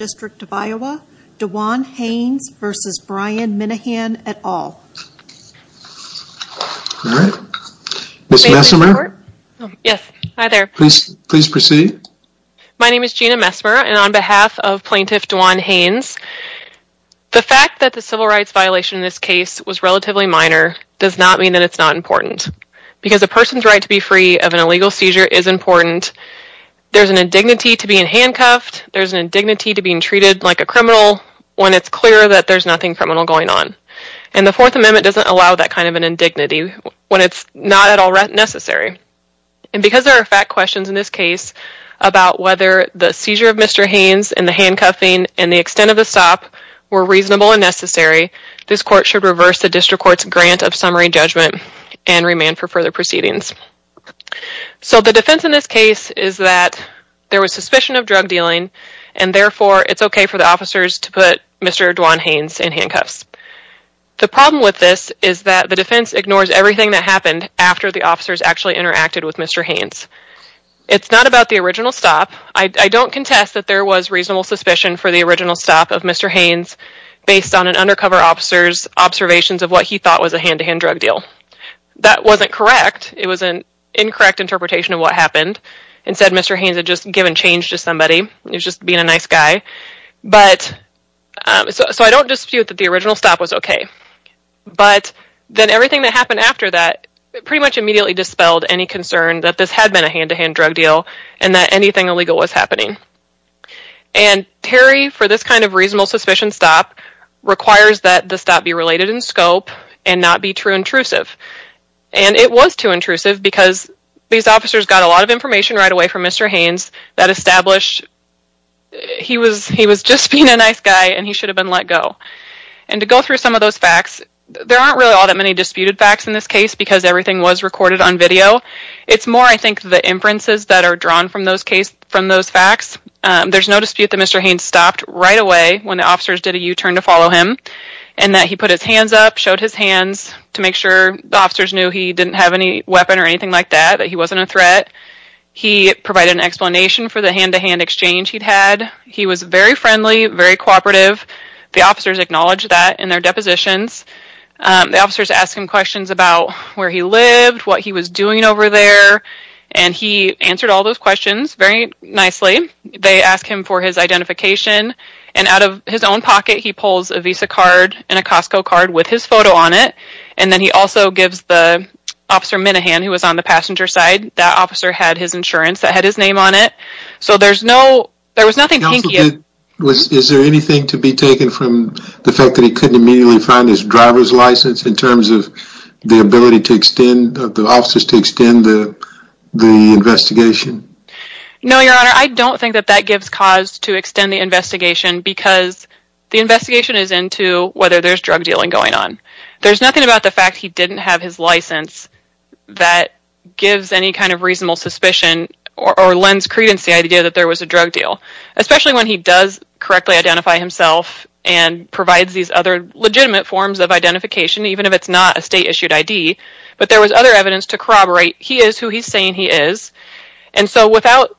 DeJuan Haynes v. Brian Minnehan, et al. Please proceed. My name is Gina Messmer, and on behalf of Plaintiff DeJuan Haynes, the fact that the civil rights violation in this case was relatively minor does not mean that it's not important. Because a person's right to be free of an illegal seizure is important. There's an indignity to being handcuffed. There's an indignity to being treated like a criminal when it's clear that there's nothing criminal going on. And the Fourth Amendment doesn't allow that kind of an indignity when it's not at all necessary. And because there are fact questions in this case about whether the seizure of Mr. Haynes and the handcuffing and the extent of the stop were reasonable and necessary, this Court should reverse the District Court's grant of summary judgment and remand for further proceedings. So the defense in this case is that there was suspicion of drug dealing, and therefore it's okay for the officers to put Mr. DeJuan Haynes in handcuffs. The problem with this is that the defense ignores everything that happened after the officers actually interacted with Mr. Haynes. It's not about the original stop. I don't contest that there was reasonable suspicion for the original stop of Mr. Haynes based on an undercover officer's observations of what he thought was a hand-to-hand drug deal. That wasn't correct. It was an incorrect interpretation of what happened. Instead, Mr. Haynes had just given change to somebody. He was just being a nice guy. So I don't dispute that the original stop was okay. But then everything that happened after that pretty much immediately dispelled any concern that this had been a hand-to-hand drug deal and that anything illegal was happening. And Terry, for this kind of reasonable suspicion stop, requires that the stop be related in scope and not be true intrusive. And it was too intrusive because these officers got a lot of information right away from Mr. Haynes that established he was just being a nice guy and he should have been let go. And to go through some of those facts, there aren't really all that many disputed facts in this case because everything was recorded on video. It's more, I think, the inferences that are drawn from those facts. There's no dispute that Mr. Haynes stopped right away when the officers did a U-turn to follow him and that he put his hands up, showed his hands to make sure the officers knew he didn't have any weapon or anything like that, that he wasn't a threat. He provided an explanation for the hand-to-hand exchange he'd had. He was very friendly, very cooperative. The officers acknowledged that in their depositions. The officers asked him questions about where he lived, what he was doing over there, and he answered all those questions very nicely. They asked him for his identification. And out of his own pocket, he pulls a Visa card and a Costco card with his photo on it. And then he also gives Officer Minahan, who was on the passenger side, that officer had his insurance that had his name on it. So there was nothing pinky. Is there anything to be taken from the fact that he couldn't immediately find his driver's license in terms of the ability of the officers to extend the investigation? No, Your Honor. I don't think that that gives cause to extend the investigation because the investigation is into whether there's drug dealing going on. There's nothing about the fact he didn't have his license that gives any kind of reasonable suspicion or lends credence to the idea that there was a drug deal. Especially when he does correctly identify himself and provides these other legitimate forms of identification, even if it's not a state-issued ID. But there was other evidence to corroborate he is who he's saying he is. And so without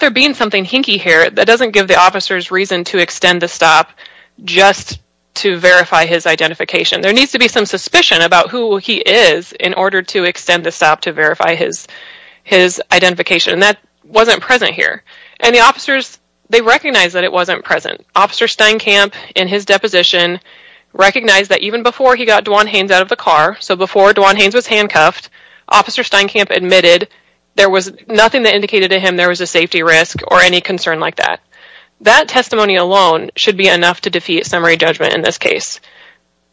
there being something hinky here, that doesn't give the officers reason to extend the stop just to verify his identification. There needs to be some suspicion about who he is in order to extend the stop to verify his identification. And that wasn't present here. And the officers, they recognized that it wasn't present. Officer Steinkamp, in his deposition, recognized that even before he got Dwan Haynes out of the car, so before Dwan Haynes was handcuffed, Officer Steinkamp admitted there was nothing that indicated to him there was a safety risk or any concern like that. That testimony alone should be enough to defeat summary judgment in this case.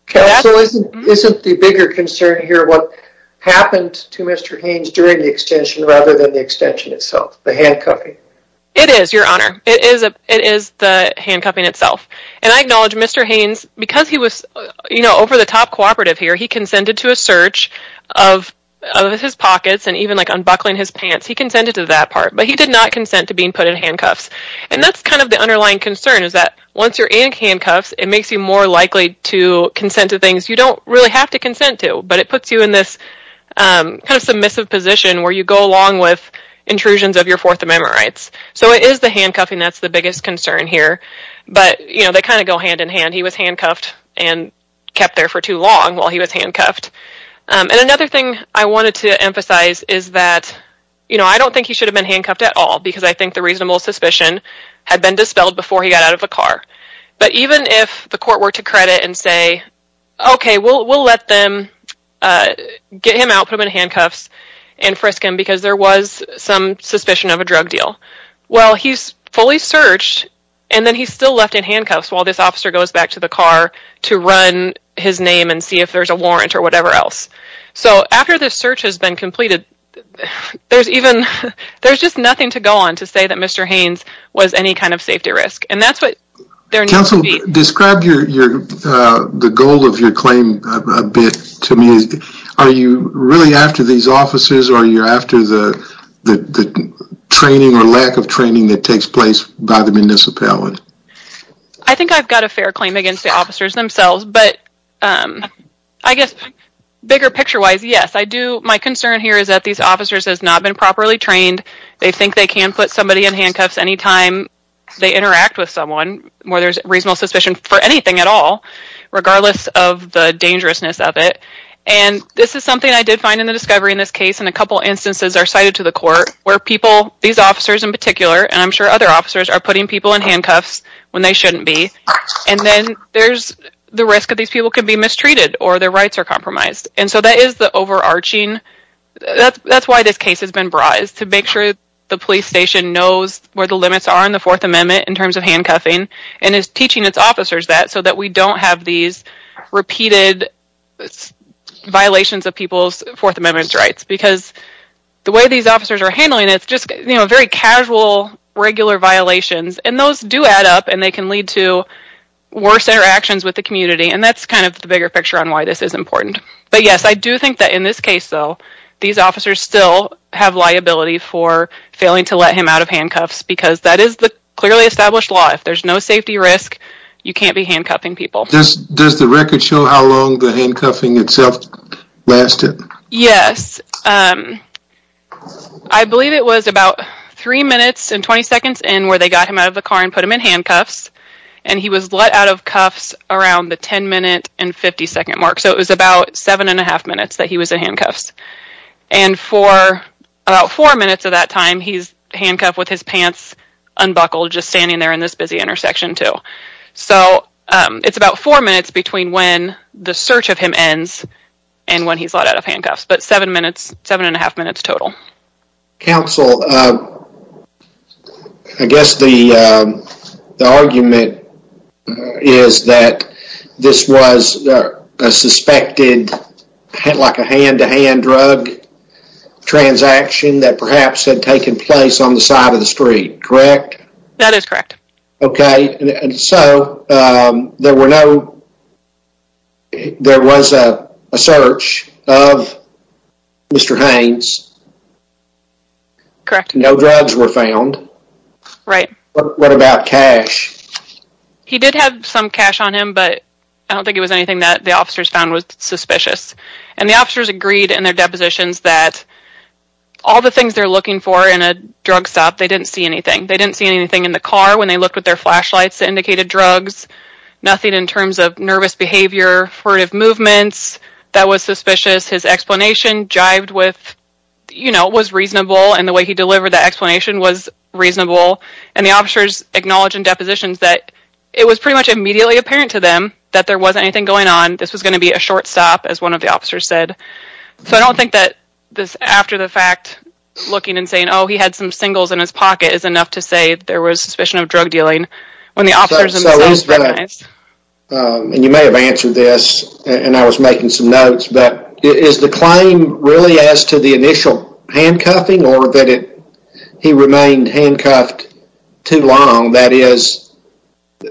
Counsel, isn't the bigger concern here what happened to Mr. Haynes during the extension rather than the extension itself, the handcuffing? It is, Your Honor. It is the handcuffing itself. And I acknowledge Mr. Haynes, because he was over the top cooperative here, he consented to a search of his pockets and even like unbuckling his pants. He consented to that part, but he did not consent to being put in handcuffs. And that's kind of the underlying concern is that once you're in handcuffs, it makes you more likely to consent to things you don't really have to consent to. But it puts you in this kind of submissive position where you go along with intrusions of your Fourth Amendment rights. So it is the handcuffing that's the biggest concern here. But, you know, they kind of go hand in hand. He was handcuffed and kept there for too long while he was handcuffed. And another thing I wanted to emphasize is that, you know, I don't think he should have been handcuffed at all, because I think the reasonable suspicion had been dispelled before he got out of the car. But even if the court were to credit and say, okay, we'll let them get him out, put him in handcuffs and frisk him, because there was some suspicion of a drug deal. Well, he's fully searched and then he's still left in handcuffs while this officer goes back to the car to run his name and see if there's a warrant or whatever else. So after this search has been completed, there's just nothing to go on to say that Mr. Haynes was any kind of safety risk. And that's what there needs to be. Counsel, describe the goal of your claim a bit to me. Are you really after these officers? Are you after the training or lack of training that takes place by the municipality? I think I've got a fair claim against the officers themselves. But I guess bigger picture wise, yes, I do. My concern here is that these officers has not been properly trained. They think they can put somebody in handcuffs anytime they interact with someone where there's reasonable suspicion for anything at all, regardless of the dangerousness of it. And this is something I did find in the discovery in this case. And a couple instances are cited to the court where people, these officers in particular, and I'm sure other officers are putting people in handcuffs when they shouldn't be. And then there's the risk of these people can be mistreated or their rights are compromised. And so that is the overarching. That's why this case has been brought, is to make sure the police station knows where the limits are in the Fourth Amendment in terms of handcuffing and is teaching its officers that so that we don't have these repeated violations of people's Fourth Amendment rights. Because the way these officers are handling it, it's just very casual, regular violations. And those do add up and they can lead to worse interactions with the community. And that's kind of the bigger picture on why this is important. But yes, I do think that in this case, though, these officers still have liability for failing to let him out of handcuffs because that is the clearly established law. If there's no safety risk, you can't be handcuffing people. Does the record show how long the handcuffing itself lasted? Yes. I believe it was about three minutes and 20 seconds in where they got him out of the car and put him in handcuffs. And he was let out of cuffs around the 10 minute and 50 second mark. So it was about seven and a half minutes that he was in handcuffs. And for about four minutes of that time, he's handcuffed with his pants unbuckled, just standing there in this busy intersection, too. So it's about four minutes between when the search of him ends and when he's let out of handcuffs, but seven minutes, seven and a half minutes total. Counsel, I guess the argument is that this was a suspected hand-to-hand drug transaction that perhaps had taken place on the side of the street, correct? That is correct. Okay, and so there was a search of Mr. Haynes. Correct. No drugs were found. Right. What about cash? He did have some cash on him, but I don't think it was anything that the officers found was suspicious. And the officers agreed in their depositions that all the things they're looking for in a drug stop, they didn't see anything. They didn't see anything in the car when they looked with their flashlights that indicated drugs, nothing in terms of nervous behavior, furtive movements, that was suspicious. His explanation jived with, you know, was reasonable, and the way he delivered that explanation was reasonable. And the officers acknowledge in depositions that it was pretty much immediately apparent to them that there wasn't anything going on. This was going to be a short stop, as one of the officers said. So I don't think that after the fact, looking and saying, oh, he had some singles in his pocket is enough to say there was suspicion of drug dealing when the officers themselves recognized. And you may have answered this, and I was making some notes, but is the claim really as to the initial handcuffing or that he remained handcuffed too long? That is,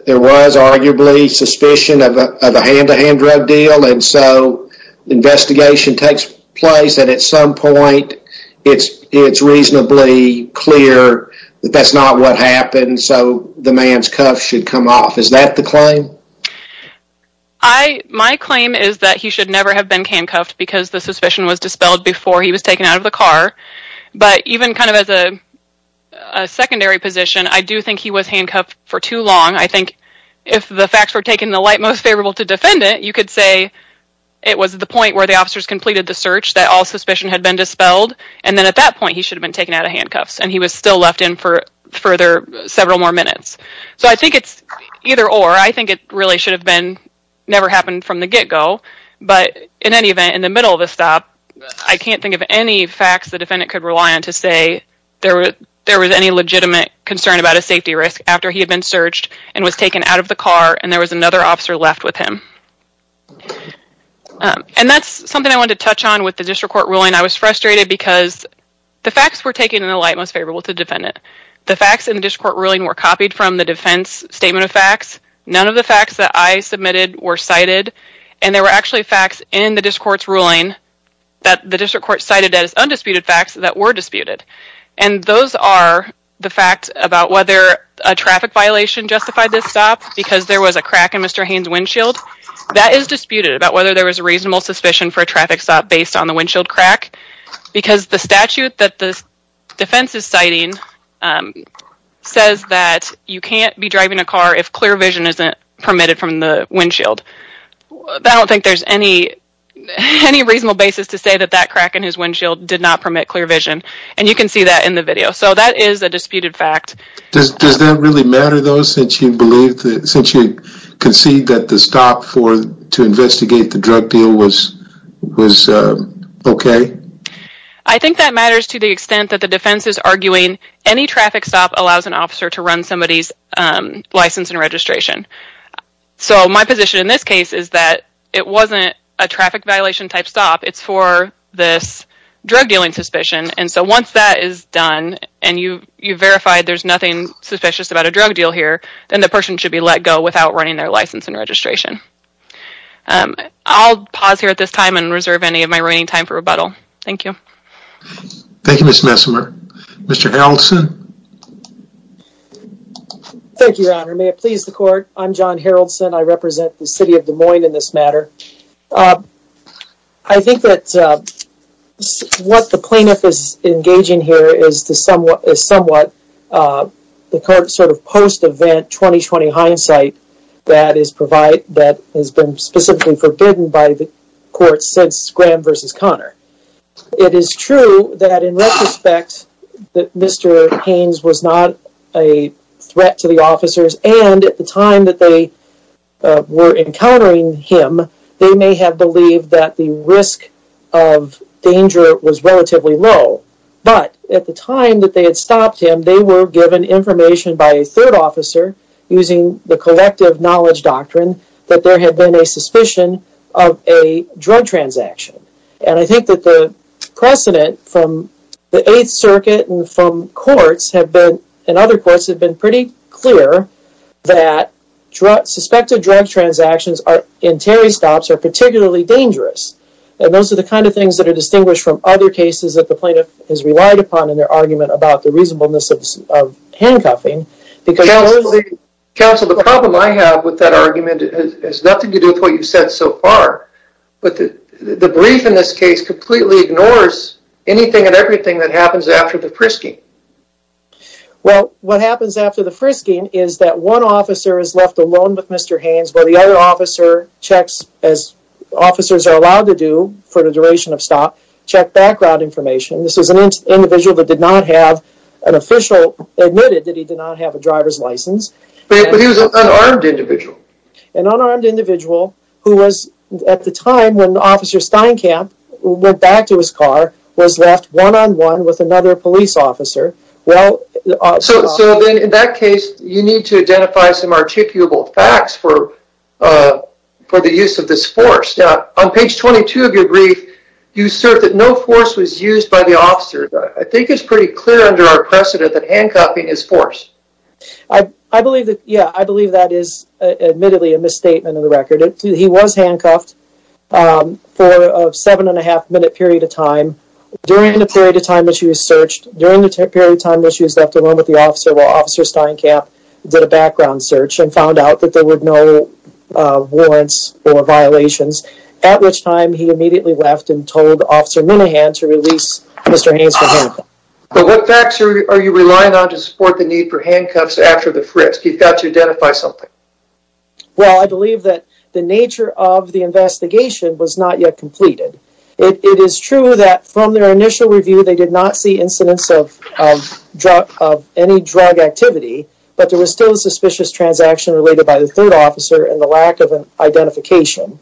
there was arguably suspicion of a hand-to-hand drug deal, and so investigation takes place, and at some point it's reasonably clear that that's not what happened, so the man's cuff should come off. Is that the claim? My claim is that he should never have been handcuffed because the suspicion was dispelled before he was taken out of the car. But even kind of as a secondary position, I do think he was handcuffed for too long. I think if the facts were taken in the light most favorable to defendant, you could say it was at the point where the officers completed the search that all suspicion had been dispelled, and then at that point he should have been taken out of handcuffs, and he was still left in for several more minutes. So I think it's either-or. I think it really should have never happened from the get-go, but in any event, in the middle of the stop, I can't think of any facts the defendant could rely on to say there was any legitimate concern about a safety risk after he had been searched and was taken out of the car and there was another officer left with him. And that's something I wanted to touch on with the district court ruling. I was frustrated because the facts were taken in the light most favorable to defendant. The facts in the district court ruling were copied from the defense statement of facts. None of the facts that I submitted were cited, and there were actually facts in the district court's ruling that the district court cited as undisputed facts that were disputed. And those are the facts about whether a traffic violation justified this stop because there was a crack in Mr. Haynes' windshield. That is disputed, about whether there was a reasonable suspicion for a traffic stop based on the windshield crack, because the statute that the defense is citing says that you can't be driving a car if clear vision isn't permitted from the windshield. I don't think there's any reasonable basis to say that that crack in his windshield did not permit clear vision. And you can see that in the video. So that is a disputed fact. Does that really matter though since you concede that the stop to investigate the drug deal was okay? I think that matters to the extent that the defense is arguing any traffic stop allows an officer to run somebody's license and registration. So my position in this case is that it wasn't a traffic violation type stop, it's for this drug dealing suspicion. And so once that is done and you've verified there's nothing suspicious about a drug deal here, then the person should be let go without running their license and registration. I'll pause here at this time and reserve any of my remaining time for rebuttal. Thank you. Thank you, Ms. Messimer. Mr. Haraldson? Thank you, Your Honor. May it please the court, I'm John Haraldson. I represent the city of Des Moines in this matter. I think that what the plaintiff is engaging here is somewhat the sort of post-event 2020 hindsight that has been specifically forbidden by the court since Graham v. Conner. It is true that in retrospect that Mr. Haynes was not a threat to the officers and at the time that they were encountering him, they may have believed that the risk of danger was relatively low. But at the time that they had stopped him, they were given information by a third officer using the collective knowledge doctrine that there had been a suspicion of a drug transaction. And I think that the precedent from the Eighth Circuit and from courts and other courts have been pretty clear that suspected drug transactions in Terry stops are particularly dangerous. And those are the kind of things that are distinguished from other cases that the plaintiff has relied upon in their argument about the reasonableness of handcuffing. Counsel, the problem I have with that argument has nothing to do with what you've said so far. But the brief in this case completely ignores anything and everything that happens after the frisking. Well, what happens after the frisking is that one officer is left alone with Mr. Haynes while the other officer checks as officers are allowed to do for the duration of stop, check background information. This is an individual that did not have an official admitted that he did not have a driver's license. But he was an unarmed individual. An unarmed individual who was, at the time when Officer Steinkamp went back to his car, was left one-on-one with another police officer. So then in that case, you need to identify some articulable facts for the use of this force. On page 22 of your brief, you assert that no force was used by the officer. I think it's pretty clear under our precedent that handcuffing is force. I believe that, yeah, I believe that is admittedly a misstatement of the record. He was handcuffed for a seven and a half minute period of time. During the period of time that she was searched, during the period of time that she was left alone with the officer while Officer Steinkamp did a background search and found out that there were no warrants or violations. At which time he immediately left and told Officer Minahan to release Mr. Haynes from handcuffing. But what facts are you relying on to support the need for handcuffs after the frisk? You've got to identify something. Well, I believe that the nature of the investigation was not yet completed. It is true that from their initial review, they did not see incidents of any drug activity. But there was still a suspicious transaction related by the third officer and the lack of an identification.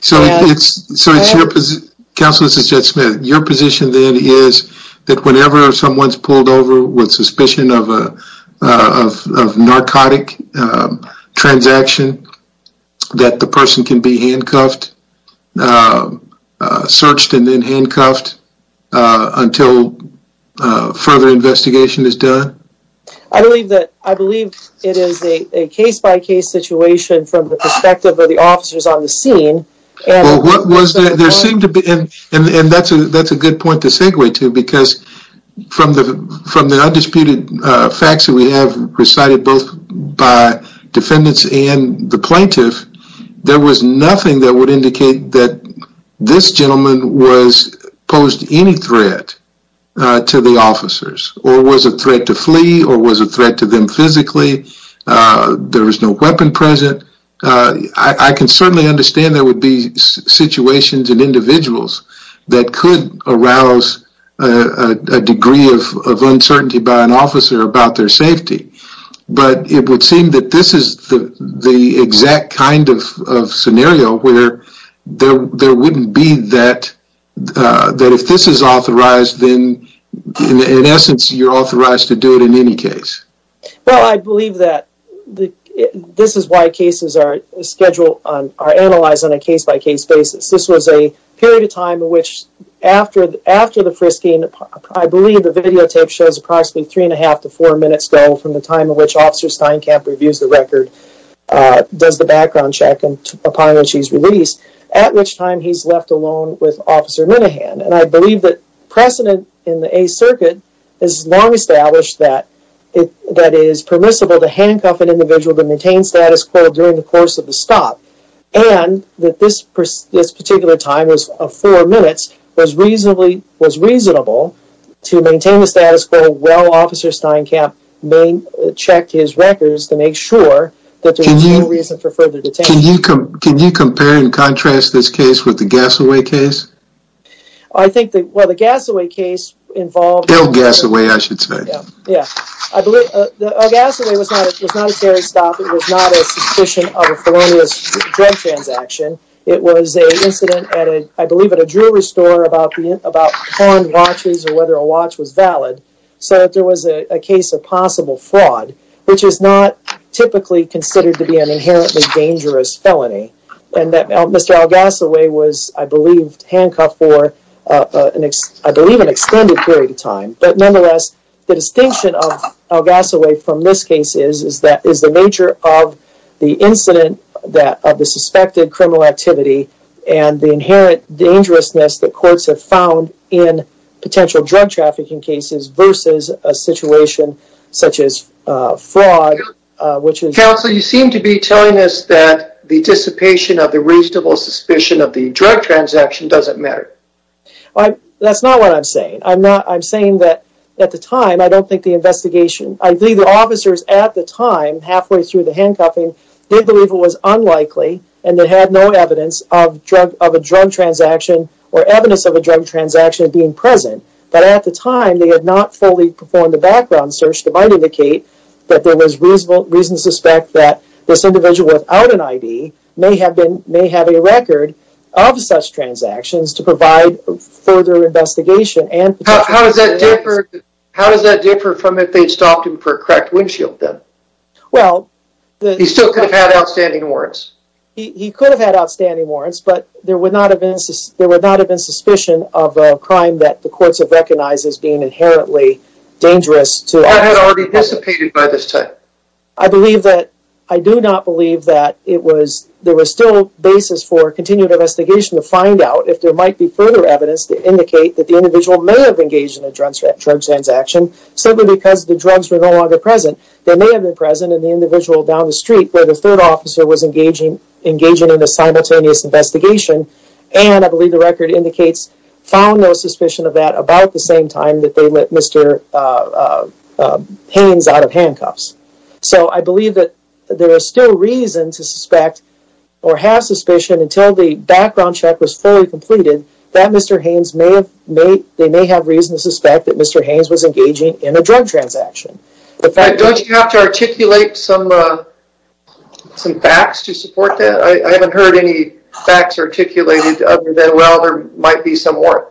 So it's your position, Counseless Judge Smith. Your position then is that whenever someone is pulled over with suspicion of a narcotic transaction that the person can be handcuffed, searched and then handcuffed until further investigation is done? I believe that it is a case-by-case situation from the perspective of the officers on the scene. And that's a good point to segue to because from the undisputed facts that we have recited both by defendants and the plaintiff, there was nothing that would indicate that this gentleman posed any threat to the officers or was a threat to flee or was a threat to them physically. There was no weapon present. I can certainly understand there would be situations and individuals that could arouse a degree of uncertainty by an officer about their safety. But it would seem that this is the exact kind of scenario where there wouldn't be that if this is authorized, then in essence you're authorized to do it in any case. Well, I believe that this is why cases are analyzed on a case-by-case basis. This was a period of time in which after the frisking, I believe the videotape shows approximately three and a half to four minutes ago from the time in which Officer Steinkamp reviews the record, does the background check upon which he's released, at which time he's left alone with Officer Minahan. And I believe that precedent in the Eighth Circuit has long established that it is permissible to handcuff an individual to maintain status quo during the course of the stop. And that this particular time of four minutes was reasonable to maintain the status quo while Officer Steinkamp checked his records to make sure that there was no reason for further detainment. Can you compare and contrast this case with the Gassaway case? I think the Gassaway case involved... Ill Gassaway, I should say. Ill Gassaway was not a terrorist stop. It was not a suspicion of a felonious drug transaction. It was an incident, I believe, at a jewelry store about pawned watches or whether a watch was valid. So there was a case of possible fraud, which is not typically considered to be an inherently dangerous felony. And Mr. Ill Gassaway was, I believe, handcuffed for, I believe, an extended period of time. But nonetheless, the distinction of Ill Gassaway from this case is the nature of the incident, of the suspected criminal activity, and the inherent dangerousness that courts have found in potential drug trafficking cases versus a situation such as fraud, which is... Counsel, you seem to be telling us that the dissipation of the reasonable suspicion of the drug transaction doesn't matter. That's not what I'm saying. I'm saying that at the time, I don't think the investigation... I believe the officers at the time, halfway through the handcuffing, did believe it was unlikely and they had no evidence of a drug transaction or evidence of a drug transaction being present. But at the time, they had not fully performed the background search that might indicate that there was reason to suspect that this individual without an ID may have a record of such transactions to provide further investigation and... How does that differ from if they'd stopped him for a cracked windshield then? Well, the... He still could have had outstanding warrants. He could have had outstanding warrants, but there would not have been suspicion of a crime that the courts have recognized as being inherently dangerous to... That had already dissipated by this time. I believe that... I do not believe that it was... There was still basis for continued investigation to find out if there might be further evidence to indicate that the individual may have engaged in a drug transaction simply because the drugs were no longer present. They may have been present in the individual down the street where the third officer was engaging in a simultaneous investigation and I believe the record indicates found no suspicion of that about the same time that they let Mr. Haynes out of handcuffs. So I believe that there is still reason to suspect or have suspicion until the background check was fully completed that Mr. Haynes may have... They may have reason to suspect that Mr. Haynes was engaging in a drug transaction. Don't you have to articulate some facts to support that? I haven't heard any facts articulated other than, well, there might be some warrant.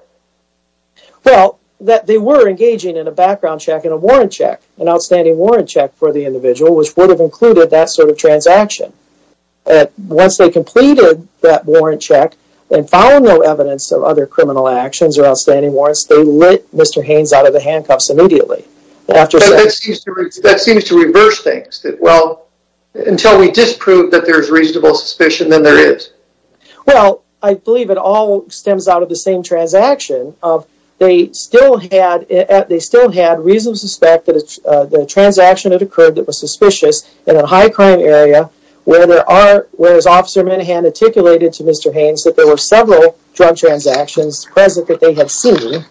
Well, that they were engaging in a background check and a warrant check, an outstanding warrant check for the individual, which would have included that sort of transaction. Once they completed that warrant check and found no evidence of other criminal actions or outstanding warrants, they let Mr. Haynes out of the handcuffs immediately. That seems to reverse things. Well, until we disprove that there is reasonable suspicion, then there is. Well, I believe it all stems out of the same transaction. They still had reason to suspect that the transaction had occurred that was suspicious in a high-crime area, whereas Officer Minahan articulated to Mr. Haynes that there were several drug transactions present that they had seen.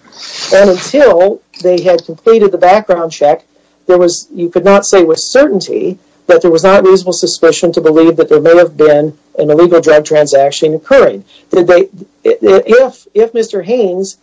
And until they had completed the background check, you could not say with certainty that there was not reasonable suspicion to believe that there may have been an illegal drug transaction occurring. If Mr. Haynes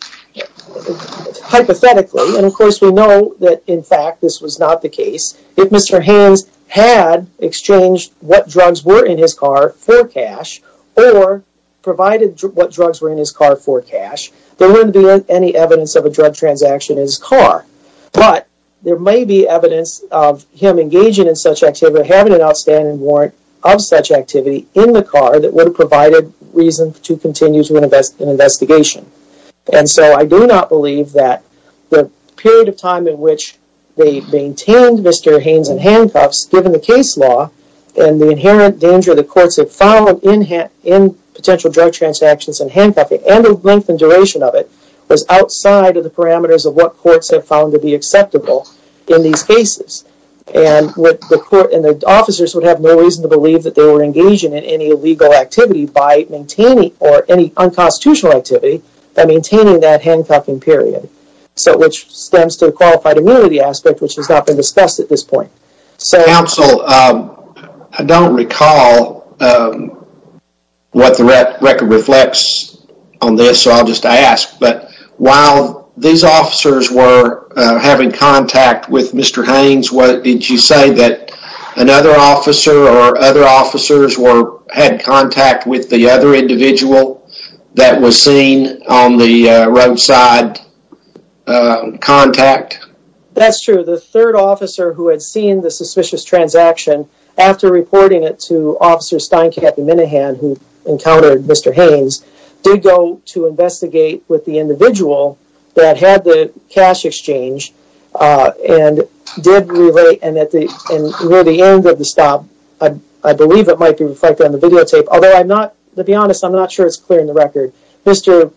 hypothetically, and of course we know that in fact this was not the case, if Mr. Haynes had exchanged what drugs were in his car for cash or provided what drugs were in his car for cash, there wouldn't be any evidence of a drug transaction in his car. But there may be evidence of him engaging in such activity, or having an outstanding warrant of such activity in the car that would have provided reason to continue an investigation. And so I do not believe that the period of time in which they maintained Mr. Haynes in handcuffs, given the case law and the inherent danger that courts have found in potential drug transactions in handcuffs, and the length and duration of it, was outside of the parameters of what courts have found to be acceptable in these cases. And the officers would have no reason to believe that they were engaging in any illegal activity by maintaining, or any unconstitutional activity, by maintaining that handcuffing period. So, which stems to the qualified immunity aspect, which has not been discussed at this point. Counsel, I don't recall what the record reflects on this, so I'll just ask, but while these officers were having contact with Mr. Haynes, did you say that another officer, or other officers had contact with the other individual that was seen on the roadside contact? That's true. The third officer who had seen the suspicious transaction, after reporting it to Officer Steinkamp and Minahan, who encountered Mr. Haynes, did go to investigate with the individual that had the cash exchange, and did relate, and near the end of the stop, I believe it might be reflected on the videotape, although I'm not, to be honest, I'm not sure it's clear in the record, Mr.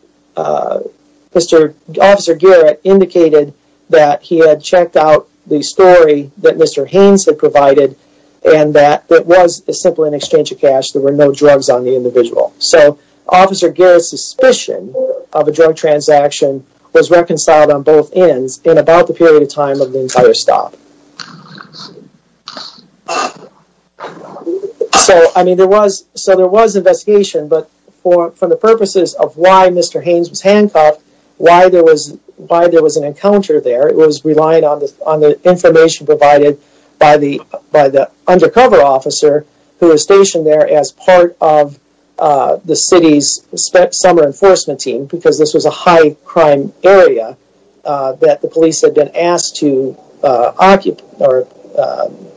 Officer Garrett indicated that he had checked out the story that Mr. Haynes had provided, and that it was simply an exchange of cash, there were no drugs on the individual. So, Officer Garrett's suspicion of a drug transaction was reconciled on both ends, in about the period of time of the entire stop. So, I mean, there was investigation, but for the purposes of why Mr. Haynes was handcuffed, why there was an encounter there, it was relying on the information provided by the undercover officer who was stationed there as part of the city's summer enforcement team, because this was a high-crime area that the police had been asked to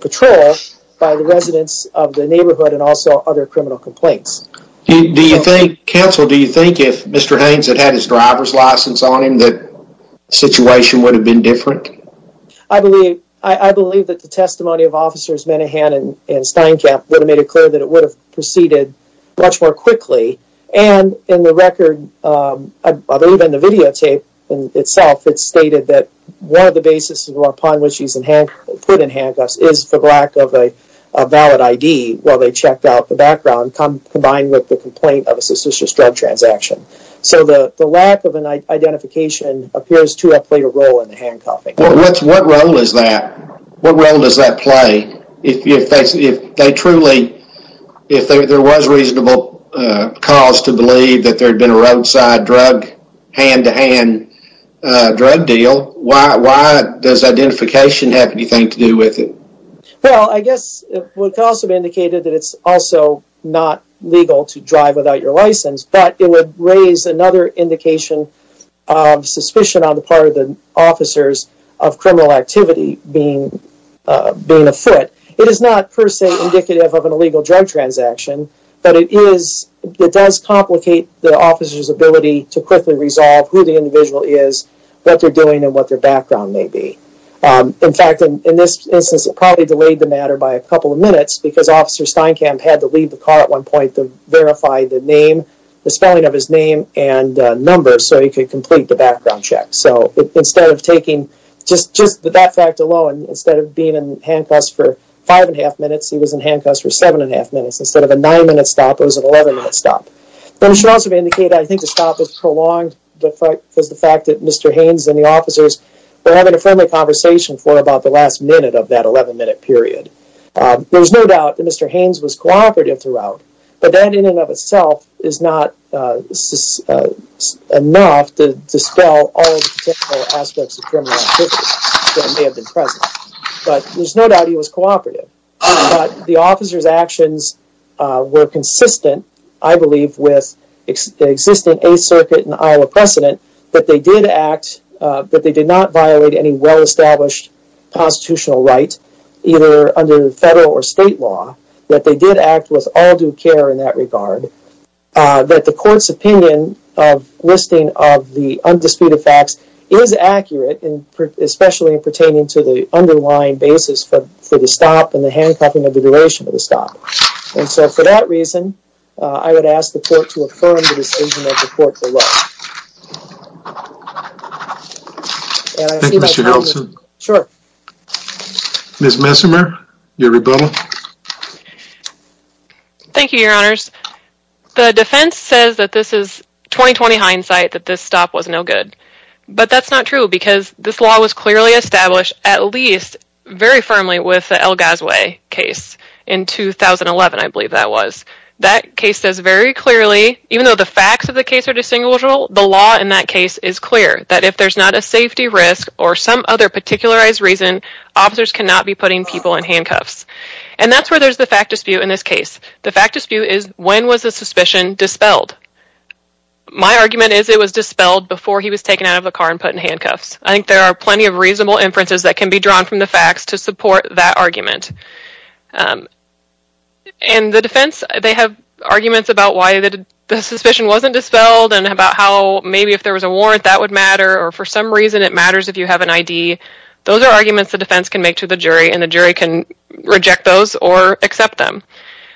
patrol by the residents of the neighborhood, and also other criminal complaints. Do you think, Counsel, do you think if Mr. Haynes had had his driver's license on him, that the situation would have been different? I believe that the testimony of Officers Menehan and Steinkamp would have made it clear that it would have proceeded much more quickly, and in the record, I believe in the videotape itself, it stated that one of the basis upon which he was put in handcuffs is for lack of a valid ID, while they checked out the background, combined with the complaint of a suspicious drug transaction. So the lack of an identification appears to have played a role in the handcuffing. What role does that play if they truly, if there was reasonable cause to believe that there had been a roadside drug, hand-to-hand drug deal, why does identification have anything to do with it? Well, I guess it would also be indicated that it's also not legal to drive without your license, but it would raise another indication of suspicion on the part of the officers of criminal activity being afoot. It is not per se indicative of an illegal drug transaction, but it does complicate the officer's ability to quickly resolve who the individual is, what they're doing, and what their background may be. In fact, in this instance, it probably delayed the matter by a couple of minutes because Officer Steinkamp had to leave the car at one point to verify the name, the spelling of his name, and numbers so he could complete the background check. So instead of taking just that fact alone, instead of being in handcuffs for 5 1⁄2 minutes, he was in handcuffs for 7 1⁄2 minutes. Instead of a 9-minute stop, it was an 11-minute stop. But it should also be indicated, I think, the stop was prolonged because of the fact that Mr. Haynes and the officers were having a friendly conversation for about the last minute of that 11-minute period. There's no doubt that Mr. Haynes was cooperative throughout, but that in and of itself is not enough to dispel all of the potential aspects of criminal activity that may have been present. But there's no doubt he was cooperative. But the officers' actions were consistent, I believe, with the existing Eighth Circuit and Iowa precedent that they did not violate any well-established constitutional right, either under federal or state law, that they did act with all due care in that regard, that the court's opinion of listing of the undisputed facts is accurate, especially pertaining to the underlying basis for the stop and the handcuffing of the duration of the stop. And so for that reason, I would ask the court to affirm the decision of the court below. Thank you, Mr. Nelson. Sure. Ms. Messimer, your rebuttal. Thank you, Your Honors. The defense says that this is 20-20 hindsight that this stop was no good, but that's not true because this law was clearly established at least very firmly with the El Gazue case in 2011, I believe that was. That case says very clearly, even though the facts of the case are distinguishable, the law in that case is clear, that if there's not a safety risk or some other particularized reason, officers cannot be putting people in handcuffs. And that's where there's the fact dispute in this case. The fact dispute is when was the suspicion dispelled? My argument is it was dispelled before he was taken out of the car and put in handcuffs. I think there are plenty of reasonable inferences that can be drawn from the facts to support that argument. And the defense, they have arguments about why the suspicion wasn't dispelled and about how maybe if there was a warrant that would matter or for some reason it matters if you have an ID. Those are arguments the defense can make to the jury and the jury can reject those or accept them.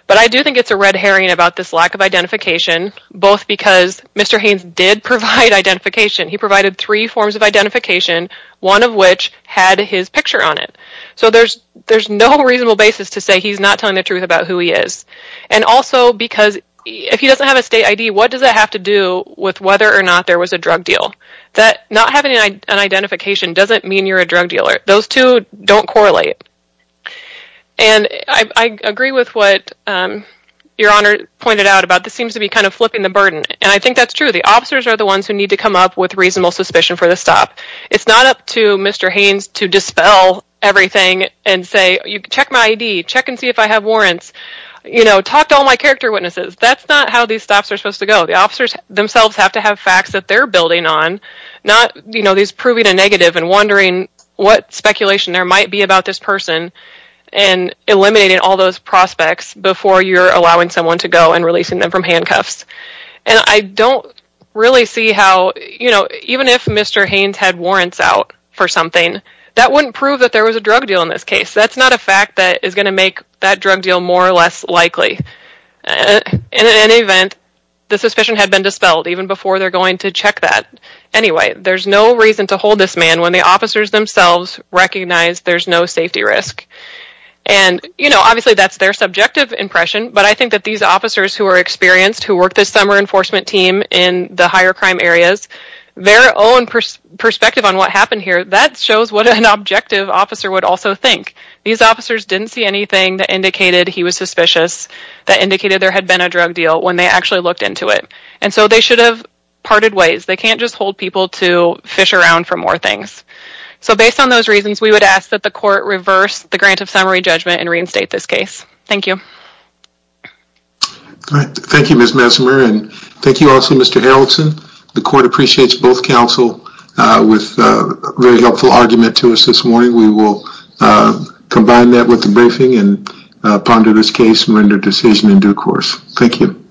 But I do think it's a red herring about this lack of identification, both because Mr. Haynes did provide identification. He provided three forms of identification, one of which had his picture on it. So there's no reasonable basis to say he's not telling the truth about who he is. And also because if he doesn't have a state ID, what does that have to do with whether or not there was a drug deal? Not having an identification doesn't mean you're a drug dealer. Those two don't correlate. And I agree with what Your Honor pointed out about this seems to be kind of flipping the burden. And I think that's true. The officers are the ones who need to come up with reasonable suspicion for the stop. It's not up to Mr. Haynes to dispel everything and say, check my ID, check and see if I have warrants, talk to all my character witnesses. That's not how these stops are supposed to go. The officers themselves have to have facts that they're building on, not these proving a negative and wondering what speculation there might be about this person and eliminating all those prospects before you're allowing someone to go and releasing them from handcuffs. And I don't really see how, you know, even if Mr. Haynes had warrants out for something, that wouldn't prove that there was a drug deal in this case. That's not a fact that is going to make that drug deal more or less likely. And in any event, the suspicion had been dispelled even before they're going to check that. Anyway, there's no reason to hold this man when the officers themselves recognize there's no safety risk. And, you know, obviously that's their subjective impression, but I think that these officers who are experienced, who worked this summer enforcement team in the higher crime areas, their own perspective on what happened here, that shows what an objective officer would also think. These officers didn't see anything that indicated he was suspicious, that indicated there had been a drug deal when they actually looked into it. And so they should have parted ways. They can't just hold people to fish around for more things. So based on those reasons, we would ask that the court reverse the grant of summary judgment and reinstate this case. Thank you. All right. Thank you, Ms. Messimer. And thank you also, Mr. Haraldson. The court appreciates both counsel with a very helpful argument to us this morning. We will combine that with the briefing and ponder this case and render a decision in due course. Thank you.